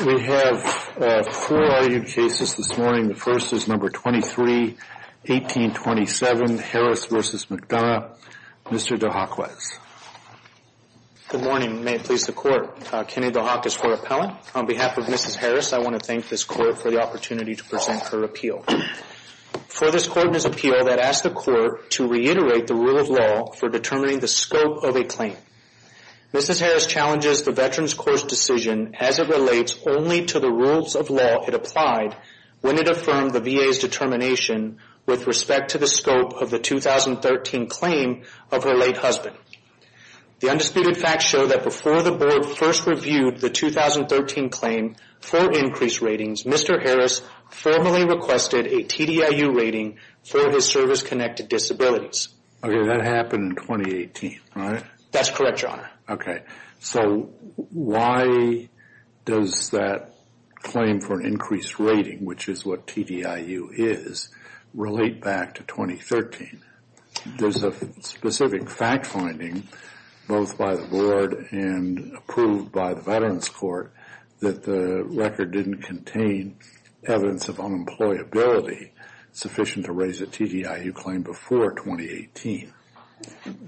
We have four argued cases this morning. The first is No. 23-1827, Harris v. McDonough. Mr. DeHock, please. Good morning. May it please the Court. Kenny DeHock is for appellant. On behalf of Mrs. Harris, I want to thank this Court for the opportunity to present her appeal. For this Court's appeal, I'd ask the Court to reiterate the rule of law for determining the scope of a claim. Mrs. Harris challenges the Veterans' Court's decision as it relates only to the rules of law it applied when it affirmed the VA's determination with respect to the scope of the 2013 claim of her late husband. The undisputed facts show that before the Board first reviewed the 2013 claim for increased ratings, Mr. Harris formally requested a TDIU rating for his service-connected disabilities. Okay, that happened in 2018, right? That's correct, Your Honor. Okay. So why does that claim for an increased rating, which is what TDIU is, relate back to 2013? There's a specific fact finding, both by the Board and approved by the Veterans' Court, that the record didn't contain evidence of unemployability sufficient to raise a TDIU claim before 2018.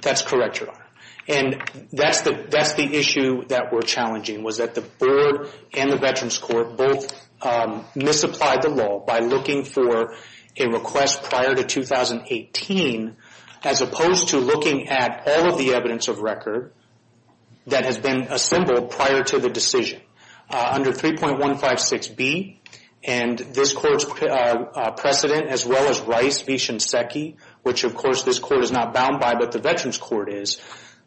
That's correct, Your Honor. And that's the issue that we're challenging, was that the Board and the Veterans' Court both misapplied the law by looking for a request prior to 2018, as opposed to looking at all of the evidence of record that has been assembled prior to the decision. Under 3.156B, and this Court's precedent, as well as Rice v. Shinseki, which of course this Court is not bound by but the Veterans' Court is,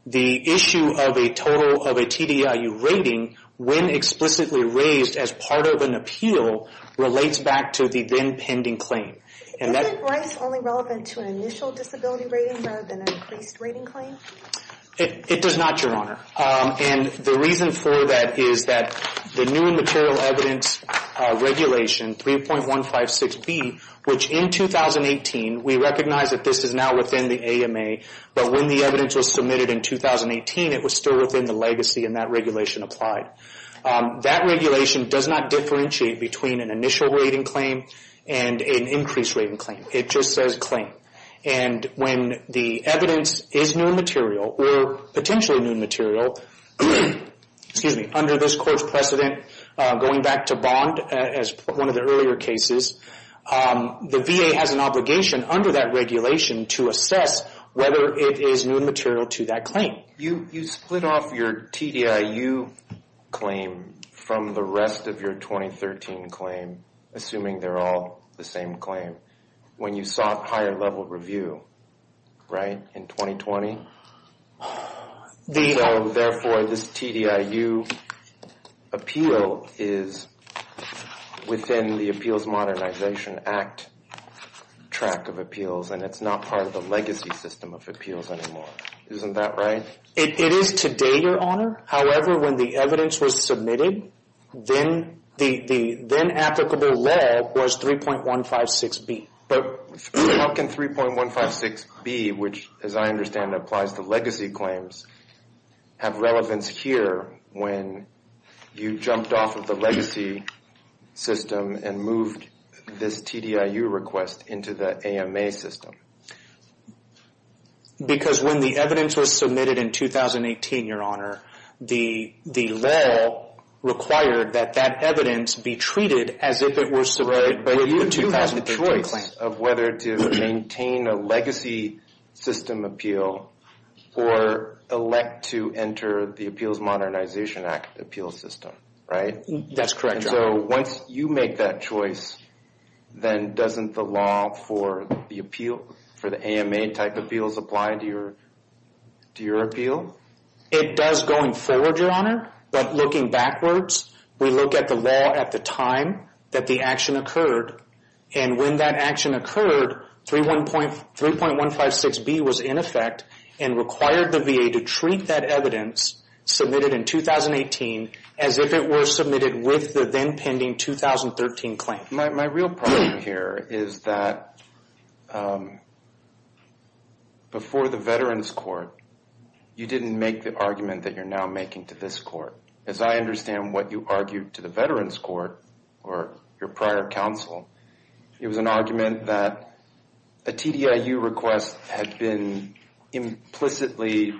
the issue of a total of a TDIU rating when explicitly raised as part of an appeal relates back to the then pending claim. Isn't Rice only relevant to an initial disability rating rather than an increased rating claim? It does not, Your Honor. And the reason for that is that the new material evidence regulation, 3.156B, which in 2018, we recognize that this is now within the AMA, but when the evidence was submitted in 2018, it was still within the legacy and that regulation applied. That regulation does not differentiate between an initial rating claim and an increased rating claim. It just says claim. And when the evidence is new material or potentially new material, under this Court's precedent, going back to Bond as one of the earlier cases, the VA has an obligation under that regulation to assess whether it is new material to that claim. You split off your TDIU claim from the rest of your 2013 claim, assuming they're all the same claim, when you sought higher level review, right, in 2020? Therefore, this TDIU appeal is within the Appeals Modernization Act tract of appeals and it's not part of the legacy system of appeals anymore. Isn't that right? It is today, Your Honor. However, when the evidence was submitted, then applicable leg was 3.156B. But how can 3.156B, which as I understand applies to legacy claims, have relevance here when you jumped off of the legacy system and moved this TDIU request into the AMA system? Because when the evidence was submitted in 2018, Your Honor, the law required that that evidence be treated as if it were submitted by the 2013 claim. Right, but you have the choice of whether to maintain a legacy system appeal or elect to enter the Appeals Modernization Act appeal system, right? That's correct, Your Honor. So once you make that choice, then doesn't the law for the appeal, for the AMA type appeals apply to your appeal? It does going forward, Your Honor, but looking backwards, we look at the law at the time that the action occurred. And when that action occurred, 3.156B was in effect and required the VA to treat that evidence submitted in 2018 as if it were submitted with the then pending 2013 claim. My real problem here is that before the Veterans Court, you didn't make the argument that you're now making to this court. As I understand what you argued to the Veterans Court or your prior counsel, it was an argument that a TDIU request had been implicitly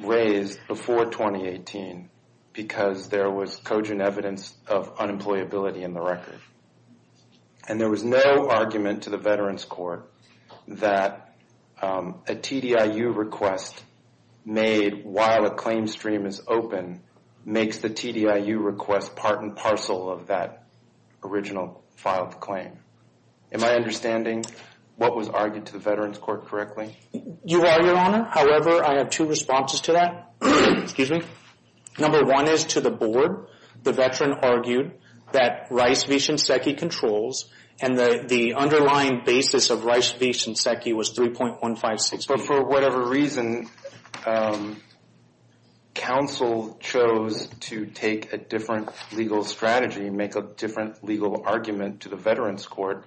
raised before 2018 because there was cogent evidence of unemployability in the record. And there was no argument to the Veterans Court that a TDIU request made while a claim stream is open makes the TDIU request part and parcel of that original filed claim. Am I understanding what was argued to the Veterans Court correctly? You are, Your Honor. However, I have two responses to that. Number one is to the board. The veteran argued that Rice v. Shinseki controls and the underlying basis of Rice v. Shinseki was 3.156B. But for whatever reason, counsel chose to take a different legal strategy, make a different legal argument to the Veterans Court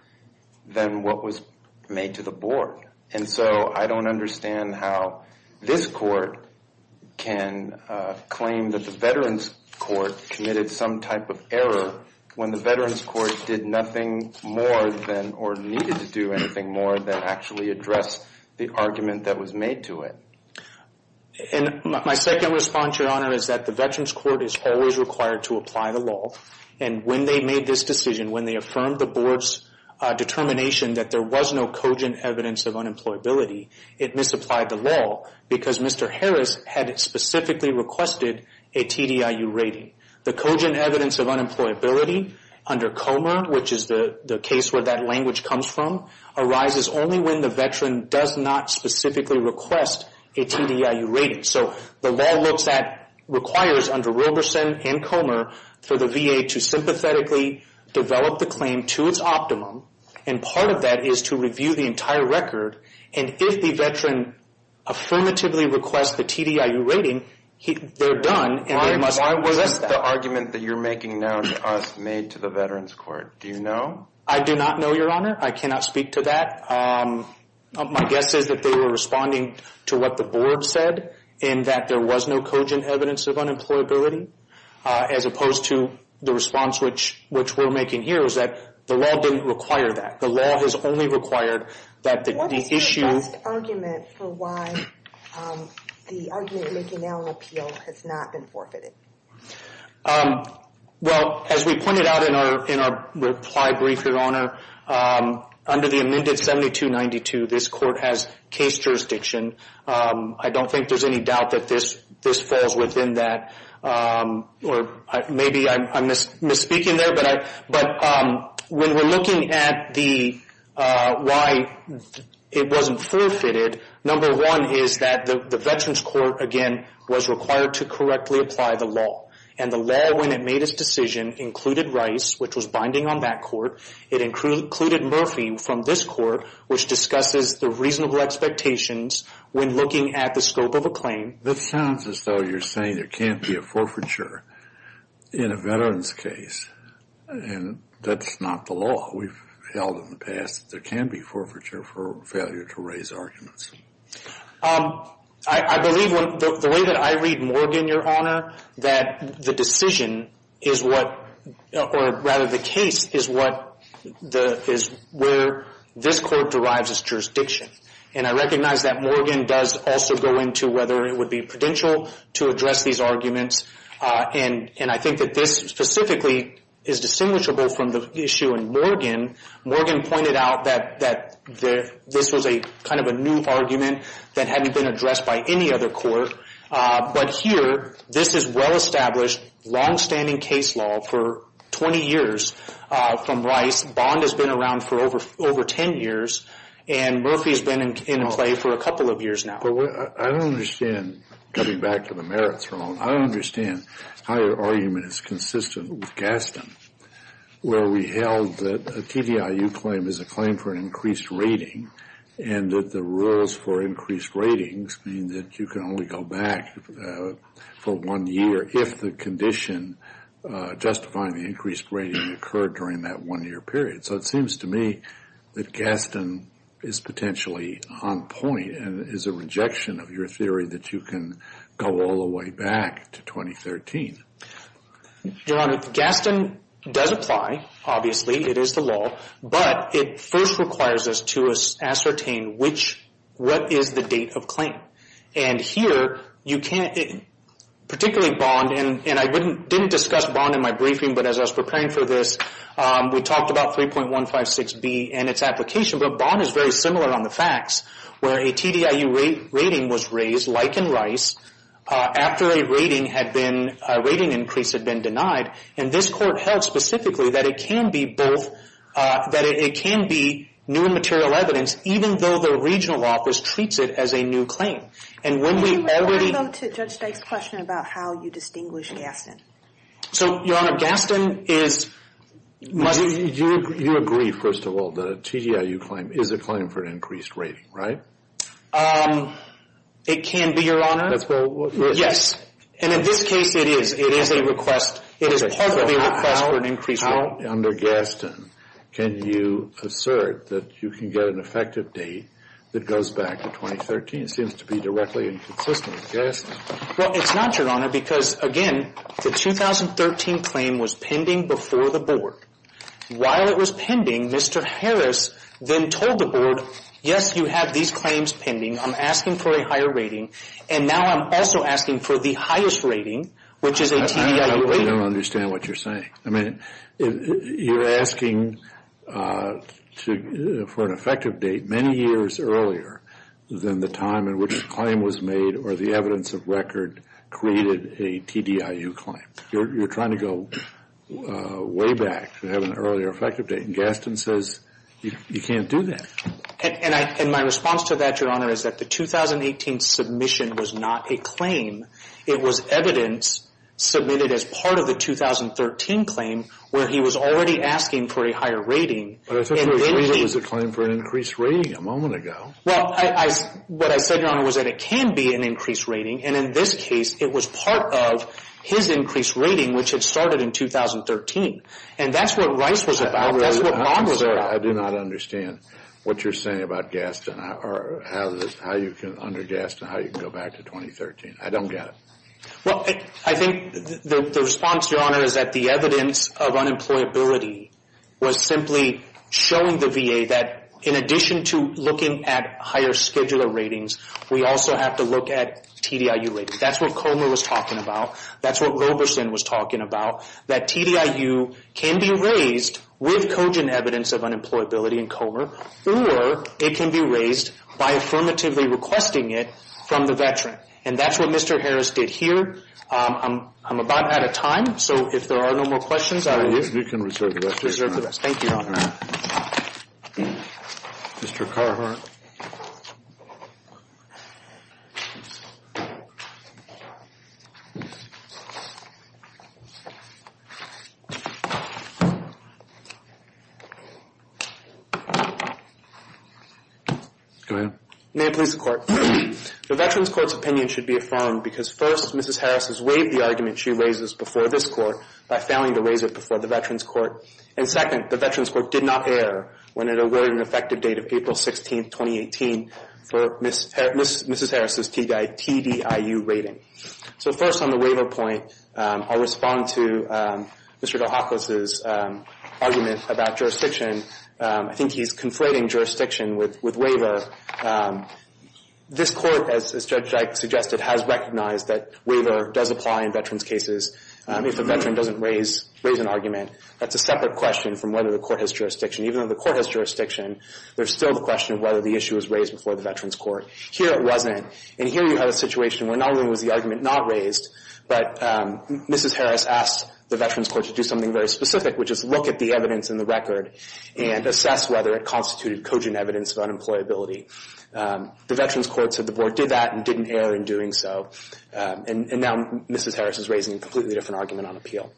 than what was made to the board. And so I don't understand how this court can claim that the Veterans Court committed some type of error when the Veterans Court did nothing more than or needed to do anything more than actually address the argument that was made to it. And my second response, Your Honor, is that the Veterans Court is always required to apply the law. And when they made this decision, when they affirmed the board's determination that there was no cogent evidence of unemployability, it misapplied the law because Mr. Harris had specifically requested a TDIU rating. The cogent evidence of unemployability under Comer, which is the case where that language comes from, arises only when the veteran does not specifically request a TDIU rating. So the law looks at, requires under Wilberson and Comer for the VA to sympathetically develop the claim to its optimum. And part of that is to review the entire record. And if the veteran affirmatively requests the TDIU rating, they're done. Why was the argument that you're making now to us made to the Veterans Court? Do you know? I do not know, Your Honor. I cannot speak to that. My guess is that they were responding to what the board said, in that there was no cogent evidence of unemployability, as opposed to the response which we're making here is that the law didn't require that. The law has only required that the issue... What is your best argument for why the argument you're making now in appeal has not been forfeited? Well, as we pointed out in our reply brief, Your Honor, under the amended 7292, this court has case jurisdiction. I don't think there's any doubt that this falls within that. Maybe I'm misspeaking there, but when we're looking at why it wasn't forfeited, number one is that the Veterans Court, again, was required to correctly apply the law. And the law, when it made its decision, included Rice, which was binding on that court. It included Murphy from this court, which discusses the reasonable expectations when looking at the scope of a claim. That sounds as though you're saying there can't be a forfeiture in a veteran's case. And that's not the law. We've held in the past that there can be forfeiture for failure to raise arguments. I believe, the way that I read Morgan, Your Honor, that the decision is what, or rather the case, is where this court derives its jurisdiction. And I recognize that Morgan does also go into whether it would be prudential to address these arguments. And I think that this specifically is distinguishable from the issue in Morgan. Morgan pointed out that this was kind of a new argument that hadn't been addressed by any other court. But here, this is well-established, longstanding case law for 20 years from Rice. Bond has been around for over 10 years. And Murphy has been in play for a couple of years now. I don't understand, coming back to the merits, Your Honor. I don't understand how your argument is consistent with Gaston, where we held that a TDIU claim is a claim for an increased rating, and that the rules for increased ratings mean that you can only go back for one year if the condition justifying the increased rating occurred during that one-year period. So it seems to me that Gaston is potentially on point and is a rejection of your theory that you can go all the way back to 2013. Your Honor, Gaston does apply, obviously. It is the law. But it first requires us to ascertain which, what is the date of claim. And here, particularly Bond, and I didn't discuss Bond in my briefing, but as I was preparing for this, we talked about 3.156B and its application. But Bond is very similar on the facts, where a TDIU rating was raised, like in Rice, after a rating increase had been denied. And this court held specifically that it can be both, that it can be new and material evidence, even though the regional office treats it as a new claim. And when we already... Can you refer, though, to Judge Dyke's question about how you distinguish Gaston? So, Your Honor, Gaston is... You agree, first of all, that a TDIU claim is a claim for an increased rating, right? It can be, Your Honor. That's what... Yes. And in this case, it is. It is a request. It is partly a request for an increased rating. So how, under Gaston, can you assert that you can get an effective date that goes back to 2013? It seems to be directly inconsistent with Gaston. Well, it's not, Your Honor, because, again, the 2013 claim was pending before the board. While it was pending, Mr. Harris then told the board, yes, you have these claims pending. I'm asking for a higher rating. And now I'm also asking for the highest rating, which is a TDIU rating. I don't understand what you're saying. I mean, you're asking for an effective date many years earlier than the time in which the claim was made or the evidence of record created a TDIU claim. You're trying to go way back to having an earlier effective date. And Gaston says you can't do that. And my response to that, Your Honor, is that the 2018 submission was not a claim. It was evidence submitted as part of the 2013 claim where he was already asking for a higher rating. But I thought your claim was a claim for an increased rating a moment ago. Well, what I said, Your Honor, was that it can be an increased rating. And in this case, it was part of his increased rating, which had started in 2013. And that's what Rice was about. That's what Bond was about. I do not understand what you're saying about Gaston or how you can, under Gaston, how you can go back to 2013. I don't get it. Well, I think the response, Your Honor, is that the evidence of unemployability was simply showing the VA that, in addition to looking at higher scheduler ratings, we also have to look at TDIU ratings. That's what Comer was talking about. That's what Roberson was talking about. That TDIU can be raised with cogent evidence of unemployability in Comer, or it can be raised by affirmatively requesting it from the veteran. And that's what Mr. Harris did here. I'm about out of time, so if there are no more questions, I will reserve the rest. Thank you, Your Honor. Mr. Carhart. Go ahead. May it please the Court. The Veterans Court's opinion should be affirmed because, first, Mrs. Harris has waived the argument she raises before this Court by failing to raise it before the Veterans Court. And, second, the Veterans Court did not err when it awarded an effective date of April 16, 2018, for Mrs. Harris' TDIU rating. So, first, on the waiver point, I'll respond to Mr. Carhart. I'll respond to Mr. DeHakos' argument about jurisdiction. I think he's conflating jurisdiction with waiver. This Court, as Judge Ike suggested, has recognized that waiver does apply in veterans' cases. If a veteran doesn't raise an argument, that's a separate question from whether the Court has jurisdiction. Even though the Court has jurisdiction, there's still the question of whether the issue was raised before the Veterans Court. Here it wasn't. And here you have a situation where not only was the argument not raised, but Mrs. Harris asked the Veterans Court to do something very specific, which is look at the evidence in the record and assess whether it constituted cogent evidence of unemployability. The Veterans Court said the Board did that and didn't err in doing so. And now Mrs. Harris is raising a completely different argument on appeal.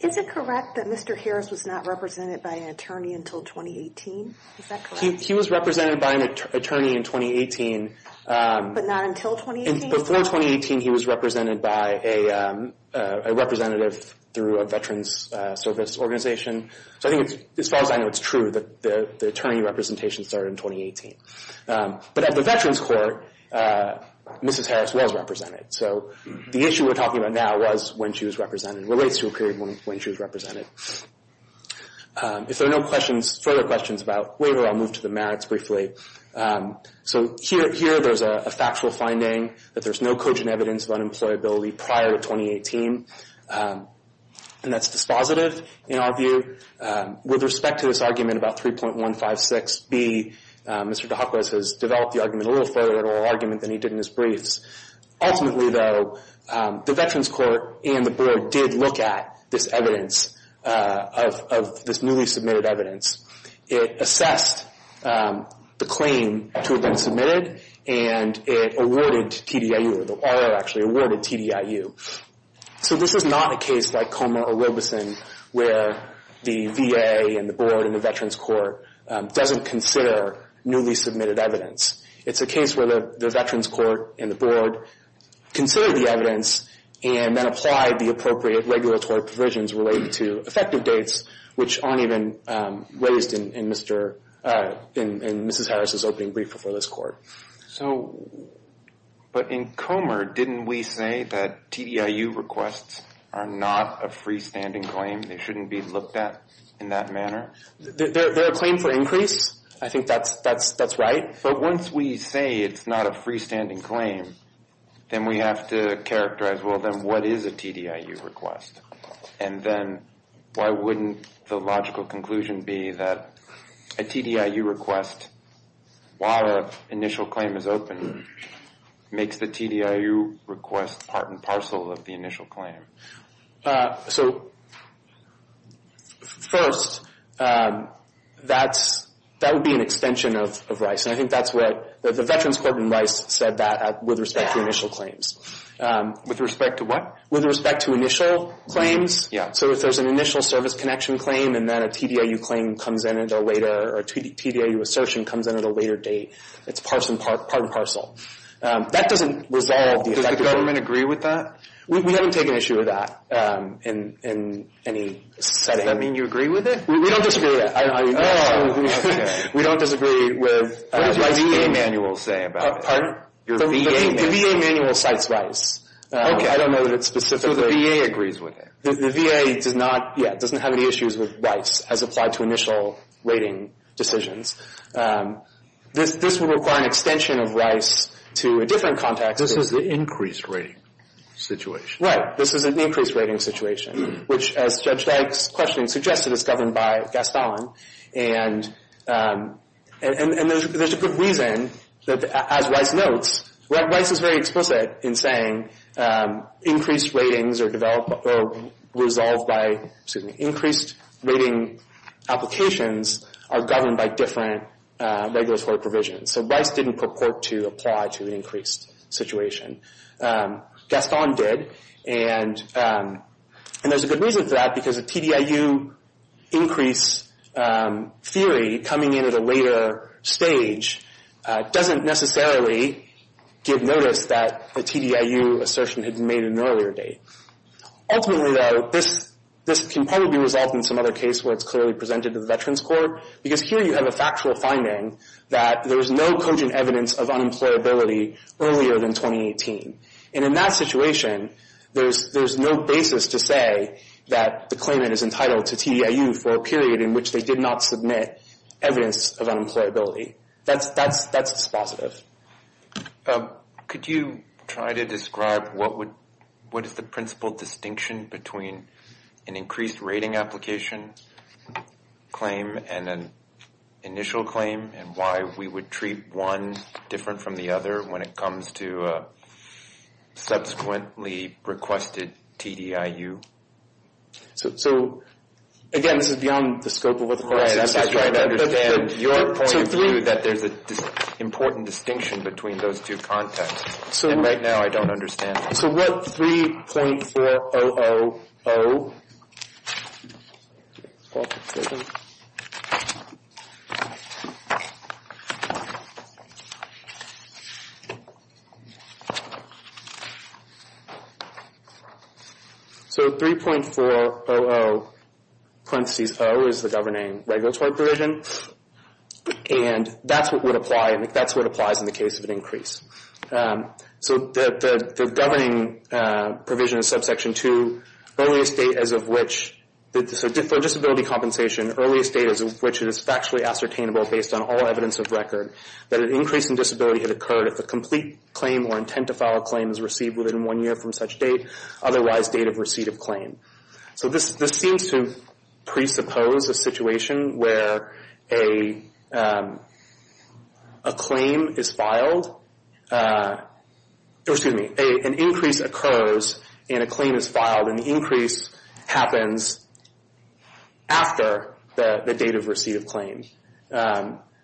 Is it correct that Mr. Harris was not represented by an attorney until 2018? Is that correct? He was represented by an attorney in 2018. But not until 2018? Before 2018, he was represented by a representative through a veterans' service organization. So I think, as far as I know, it's true that the attorney representation started in 2018. But at the Veterans Court, Mrs. Harris was represented. So the issue we're talking about now was when she was represented and relates to a period when she was represented. If there are no further questions about waiver, I'll move to the merits briefly. So here there's a factual finding that there's no cogent evidence of unemployability prior to 2018. And that's dispositive in our view. With respect to this argument about 3.156B, Mr. DeHakos has developed the argument a little further than he did in his briefs. Ultimately, though, the Veterans Court and the board did look at this evidence, of this newly submitted evidence. It assessed the claim to have been submitted, and it awarded TDIU, or the OR actually awarded TDIU. So this is not a case like Comer or Robeson, where the VA and the board and the Veterans Court doesn't consider newly submitted evidence. It's a case where the Veterans Court and the board considered the evidence and then applied the appropriate regulatory provisions related to effective dates, which aren't even raised in Mrs. Harris's opening brief before this court. But in Comer, didn't we say that TDIU requests are not a freestanding claim? They shouldn't be looked at in that manner? They're a claim for increase. I think that's right. But once we say it's not a freestanding claim, then we have to characterize, well, then what is a TDIU request? And then why wouldn't the logical conclusion be that a TDIU request, while an initial claim is open, makes the TDIU request part and parcel of the initial claim? So first, that would be an extension of Rice. And I think that's what the Veterans Court and Rice said that with respect to initial claims. With respect to what? With respect to initial claims. Yeah. So if there's an initial service connection claim, and then a TDIU claim comes in at a later, or a TDIU assertion comes in at a later date, it's part and parcel. That doesn't resolve the effect of... Does the government agree with that? We haven't taken issue with that in any setting. Does that mean you agree with it? We don't disagree with that. Oh, okay. We don't disagree with... What does your VA manual say about it? Pardon? Your VA manual. The VA manual cites Rice. Okay. I don't know that it specifically... So the VA agrees with it? The VA does not, yeah, doesn't have any issues with Rice as applied to initial rating decisions. This would require an extension of Rice to a different context. This is the increased rating situation. Right. This is an increased rating situation, which, as Judge Dykes' question suggested, is governed by Gaston. And there's a good reason that, as Rice notes, Rice is very explicit in saying increased ratings are resolved by, excuse me, increased rating applications are governed by different regulatory provisions. So Rice didn't purport to apply to the increased situation. Gaston did. And there's a good reason for that, because a TDIU increase theory coming in at a later stage doesn't necessarily give notice that a TDIU assertion had been made at an earlier date. Ultimately, though, this can probably be resolved in some other case where it's clearly presented to the Veterans Court, because here you have a factual finding that there's no cogent evidence of unemployability earlier than 2018. And in that situation, there's no basis to say that the claimant is entitled to TDIU for a period in which they did not submit evidence of unemployability. That's dispositive. Could you try to describe what is the principal distinction between an increased rating application claim and an initial claim, and why we would treat one different from the other when it comes to a subsequently requested TDIU? So, again, this is beyond the scope of what the court says. I'm trying to understand your point of view that there's an important distinction between those two contexts. And right now, I don't understand. So what 3.4000... So 3.400, parentheses O, is the governing regulatory provision. And that's what would apply, and that's what applies in the case of an increase. So the governing provision in subsection 2, earliest date as of which... So for disability compensation, earliest date as of which it is factually ascertainable based on all evidence of record that an increase in disability had occurred if a complete claim or intent to file a claim was received within one year from such date, otherwise date of receipt of claim. So this seems to presuppose a situation where a claim is filed... Excuse me, an increase occurs and a claim is filed, and the increase happens after the date of receipt of claim.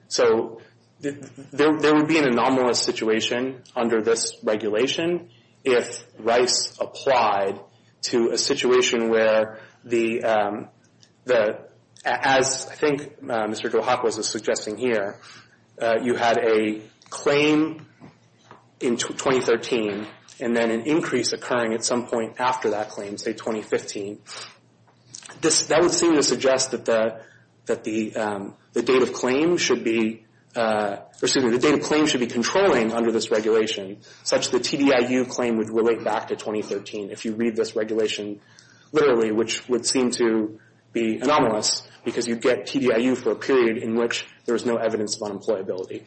So there would be an anomalous situation under this regulation if Rice applied to a situation where the... As I think Mr. Guajacoa is suggesting here, you had a claim in 2013 and then an increase occurring at some point after that claim, say 2015. That would seem to suggest that the date of claim should be... Excuse me, the date of claim should be controlling under this regulation such the TDIU claim would relate back to 2013 if you read this regulation literally, which would seem to be anomalous because you get TDIU for a period in which there is no evidence of unemployability.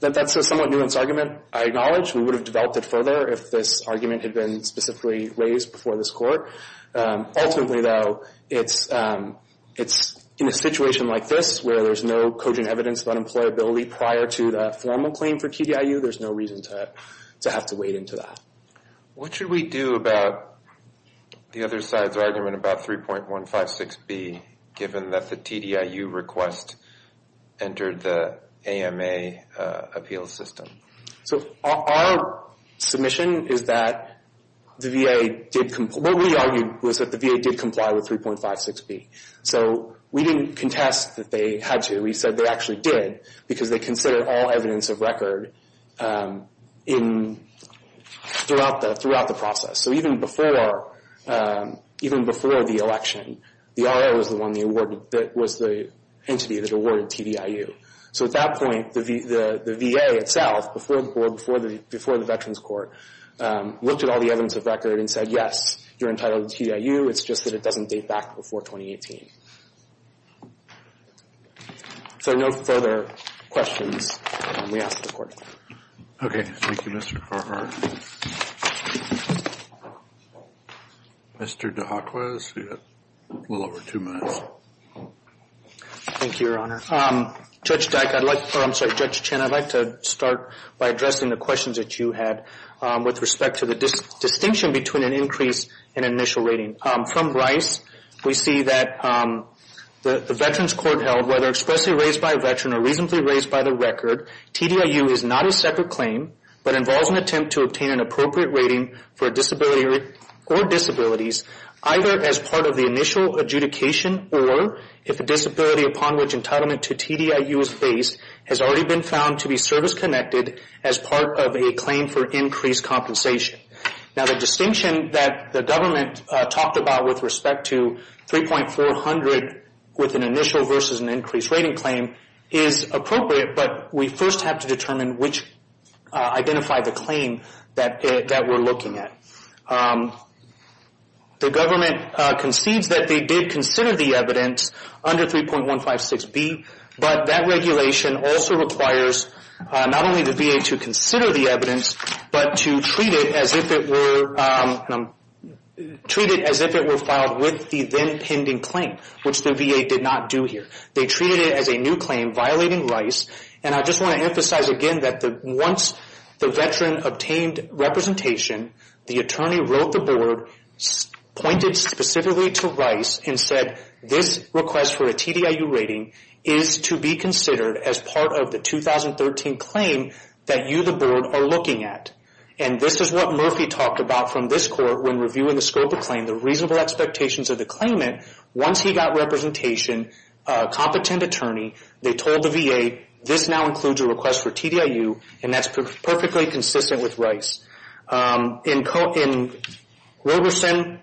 That's a somewhat nuanced argument, I acknowledge. We would have developed it further if this argument had been specifically raised before this court. Ultimately, though, it's in a situation like this where there's no cogent evidence of unemployability prior to the formal claim for TDIU, there's no reason to have to wade into that. What should we do about the other side's argument about 3.156B given that the TDIU request entered the AMA appeal system? So our submission is that the VA did... What we argued was that the VA did comply with 3.56B. So we didn't contest that they had to. We said they actually did because they considered all evidence of record throughout the process. So even before the election, the RO was the entity that awarded TDIU. So at that point, the VA itself, before the veterans court, looked at all the evidence of record and said, yes, you're entitled to TDIU, it's just that it doesn't date back before 2018. If there are no further questions, we ask the court. Okay. Thank you, Mr. Carhart. Mr. DeAquaz, you have a little over two minutes. Thank you, Your Honor. Judge Dyck, I'd like... I'm sorry, Judge Chen, I'd like to start by addressing the questions that you had with respect to the distinction between an increase in initial rating. From Rice, we see that the veterans court held, whether expressly raised by a veteran or reasonably raised by the record, TDIU is not a separate claim, but involves an attempt to obtain an appropriate rating for a disability or disabilities, either as part of the initial adjudication or if a disability upon which entitlement to TDIU is based has already been found to be service-connected as part of a claim for increased compensation. Now, the distinction that the government talked about with respect to 3.400 with an initial versus an increased rating claim is appropriate, but we first have to determine which... identify the claim that we're looking at. The government concedes that they did consider the evidence under 3.156B, but that regulation also requires not only the VA to consider the evidence, but to treat it as if it were... treat it as if it were filed with the then-pending claim, which the VA did not do here. They treated it as a new claim, violating Rice, and I just want to emphasize again that once the veteran obtained representation, the attorney wrote the board, pointed specifically to Rice, and said, this request for a TDIU rating is to be considered as part of the 2013 claim that you, the board, are looking at. And this is what Murphy talked about from this court when reviewing the scope of claim, the reasonable expectations of the claimant, once he got representation, competent attorney, they told the VA, this now includes a request for TDIU, and that's perfectly consistent with Rice. In Roberson,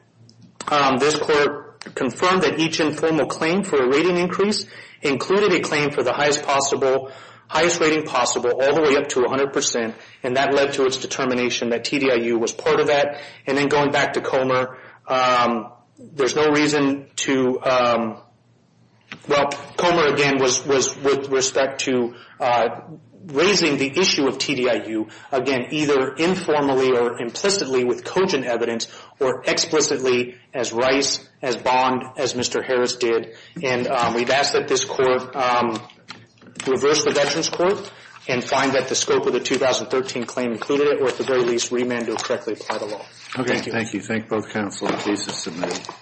this court confirmed that each informal claim for a rating increase included a claim for the highest possible... highest rating possible, all the way up to 100%, and that led to its determination that TDIU was part of that. And then going back to Comer, there's no reason to... Well, Comer, again, was with respect to raising the issue of TDIU, again, either informally or implicitly with cogent evidence, or explicitly as Rice, as Bond, as Mr. Harris did. And we've asked that this court reverse the Veterans Court and find that the scope of the 2013 claim included it, or at the very least, remand to correctly apply the law. Okay. Thank you. Thank you. Thank both counsel and cases submitted.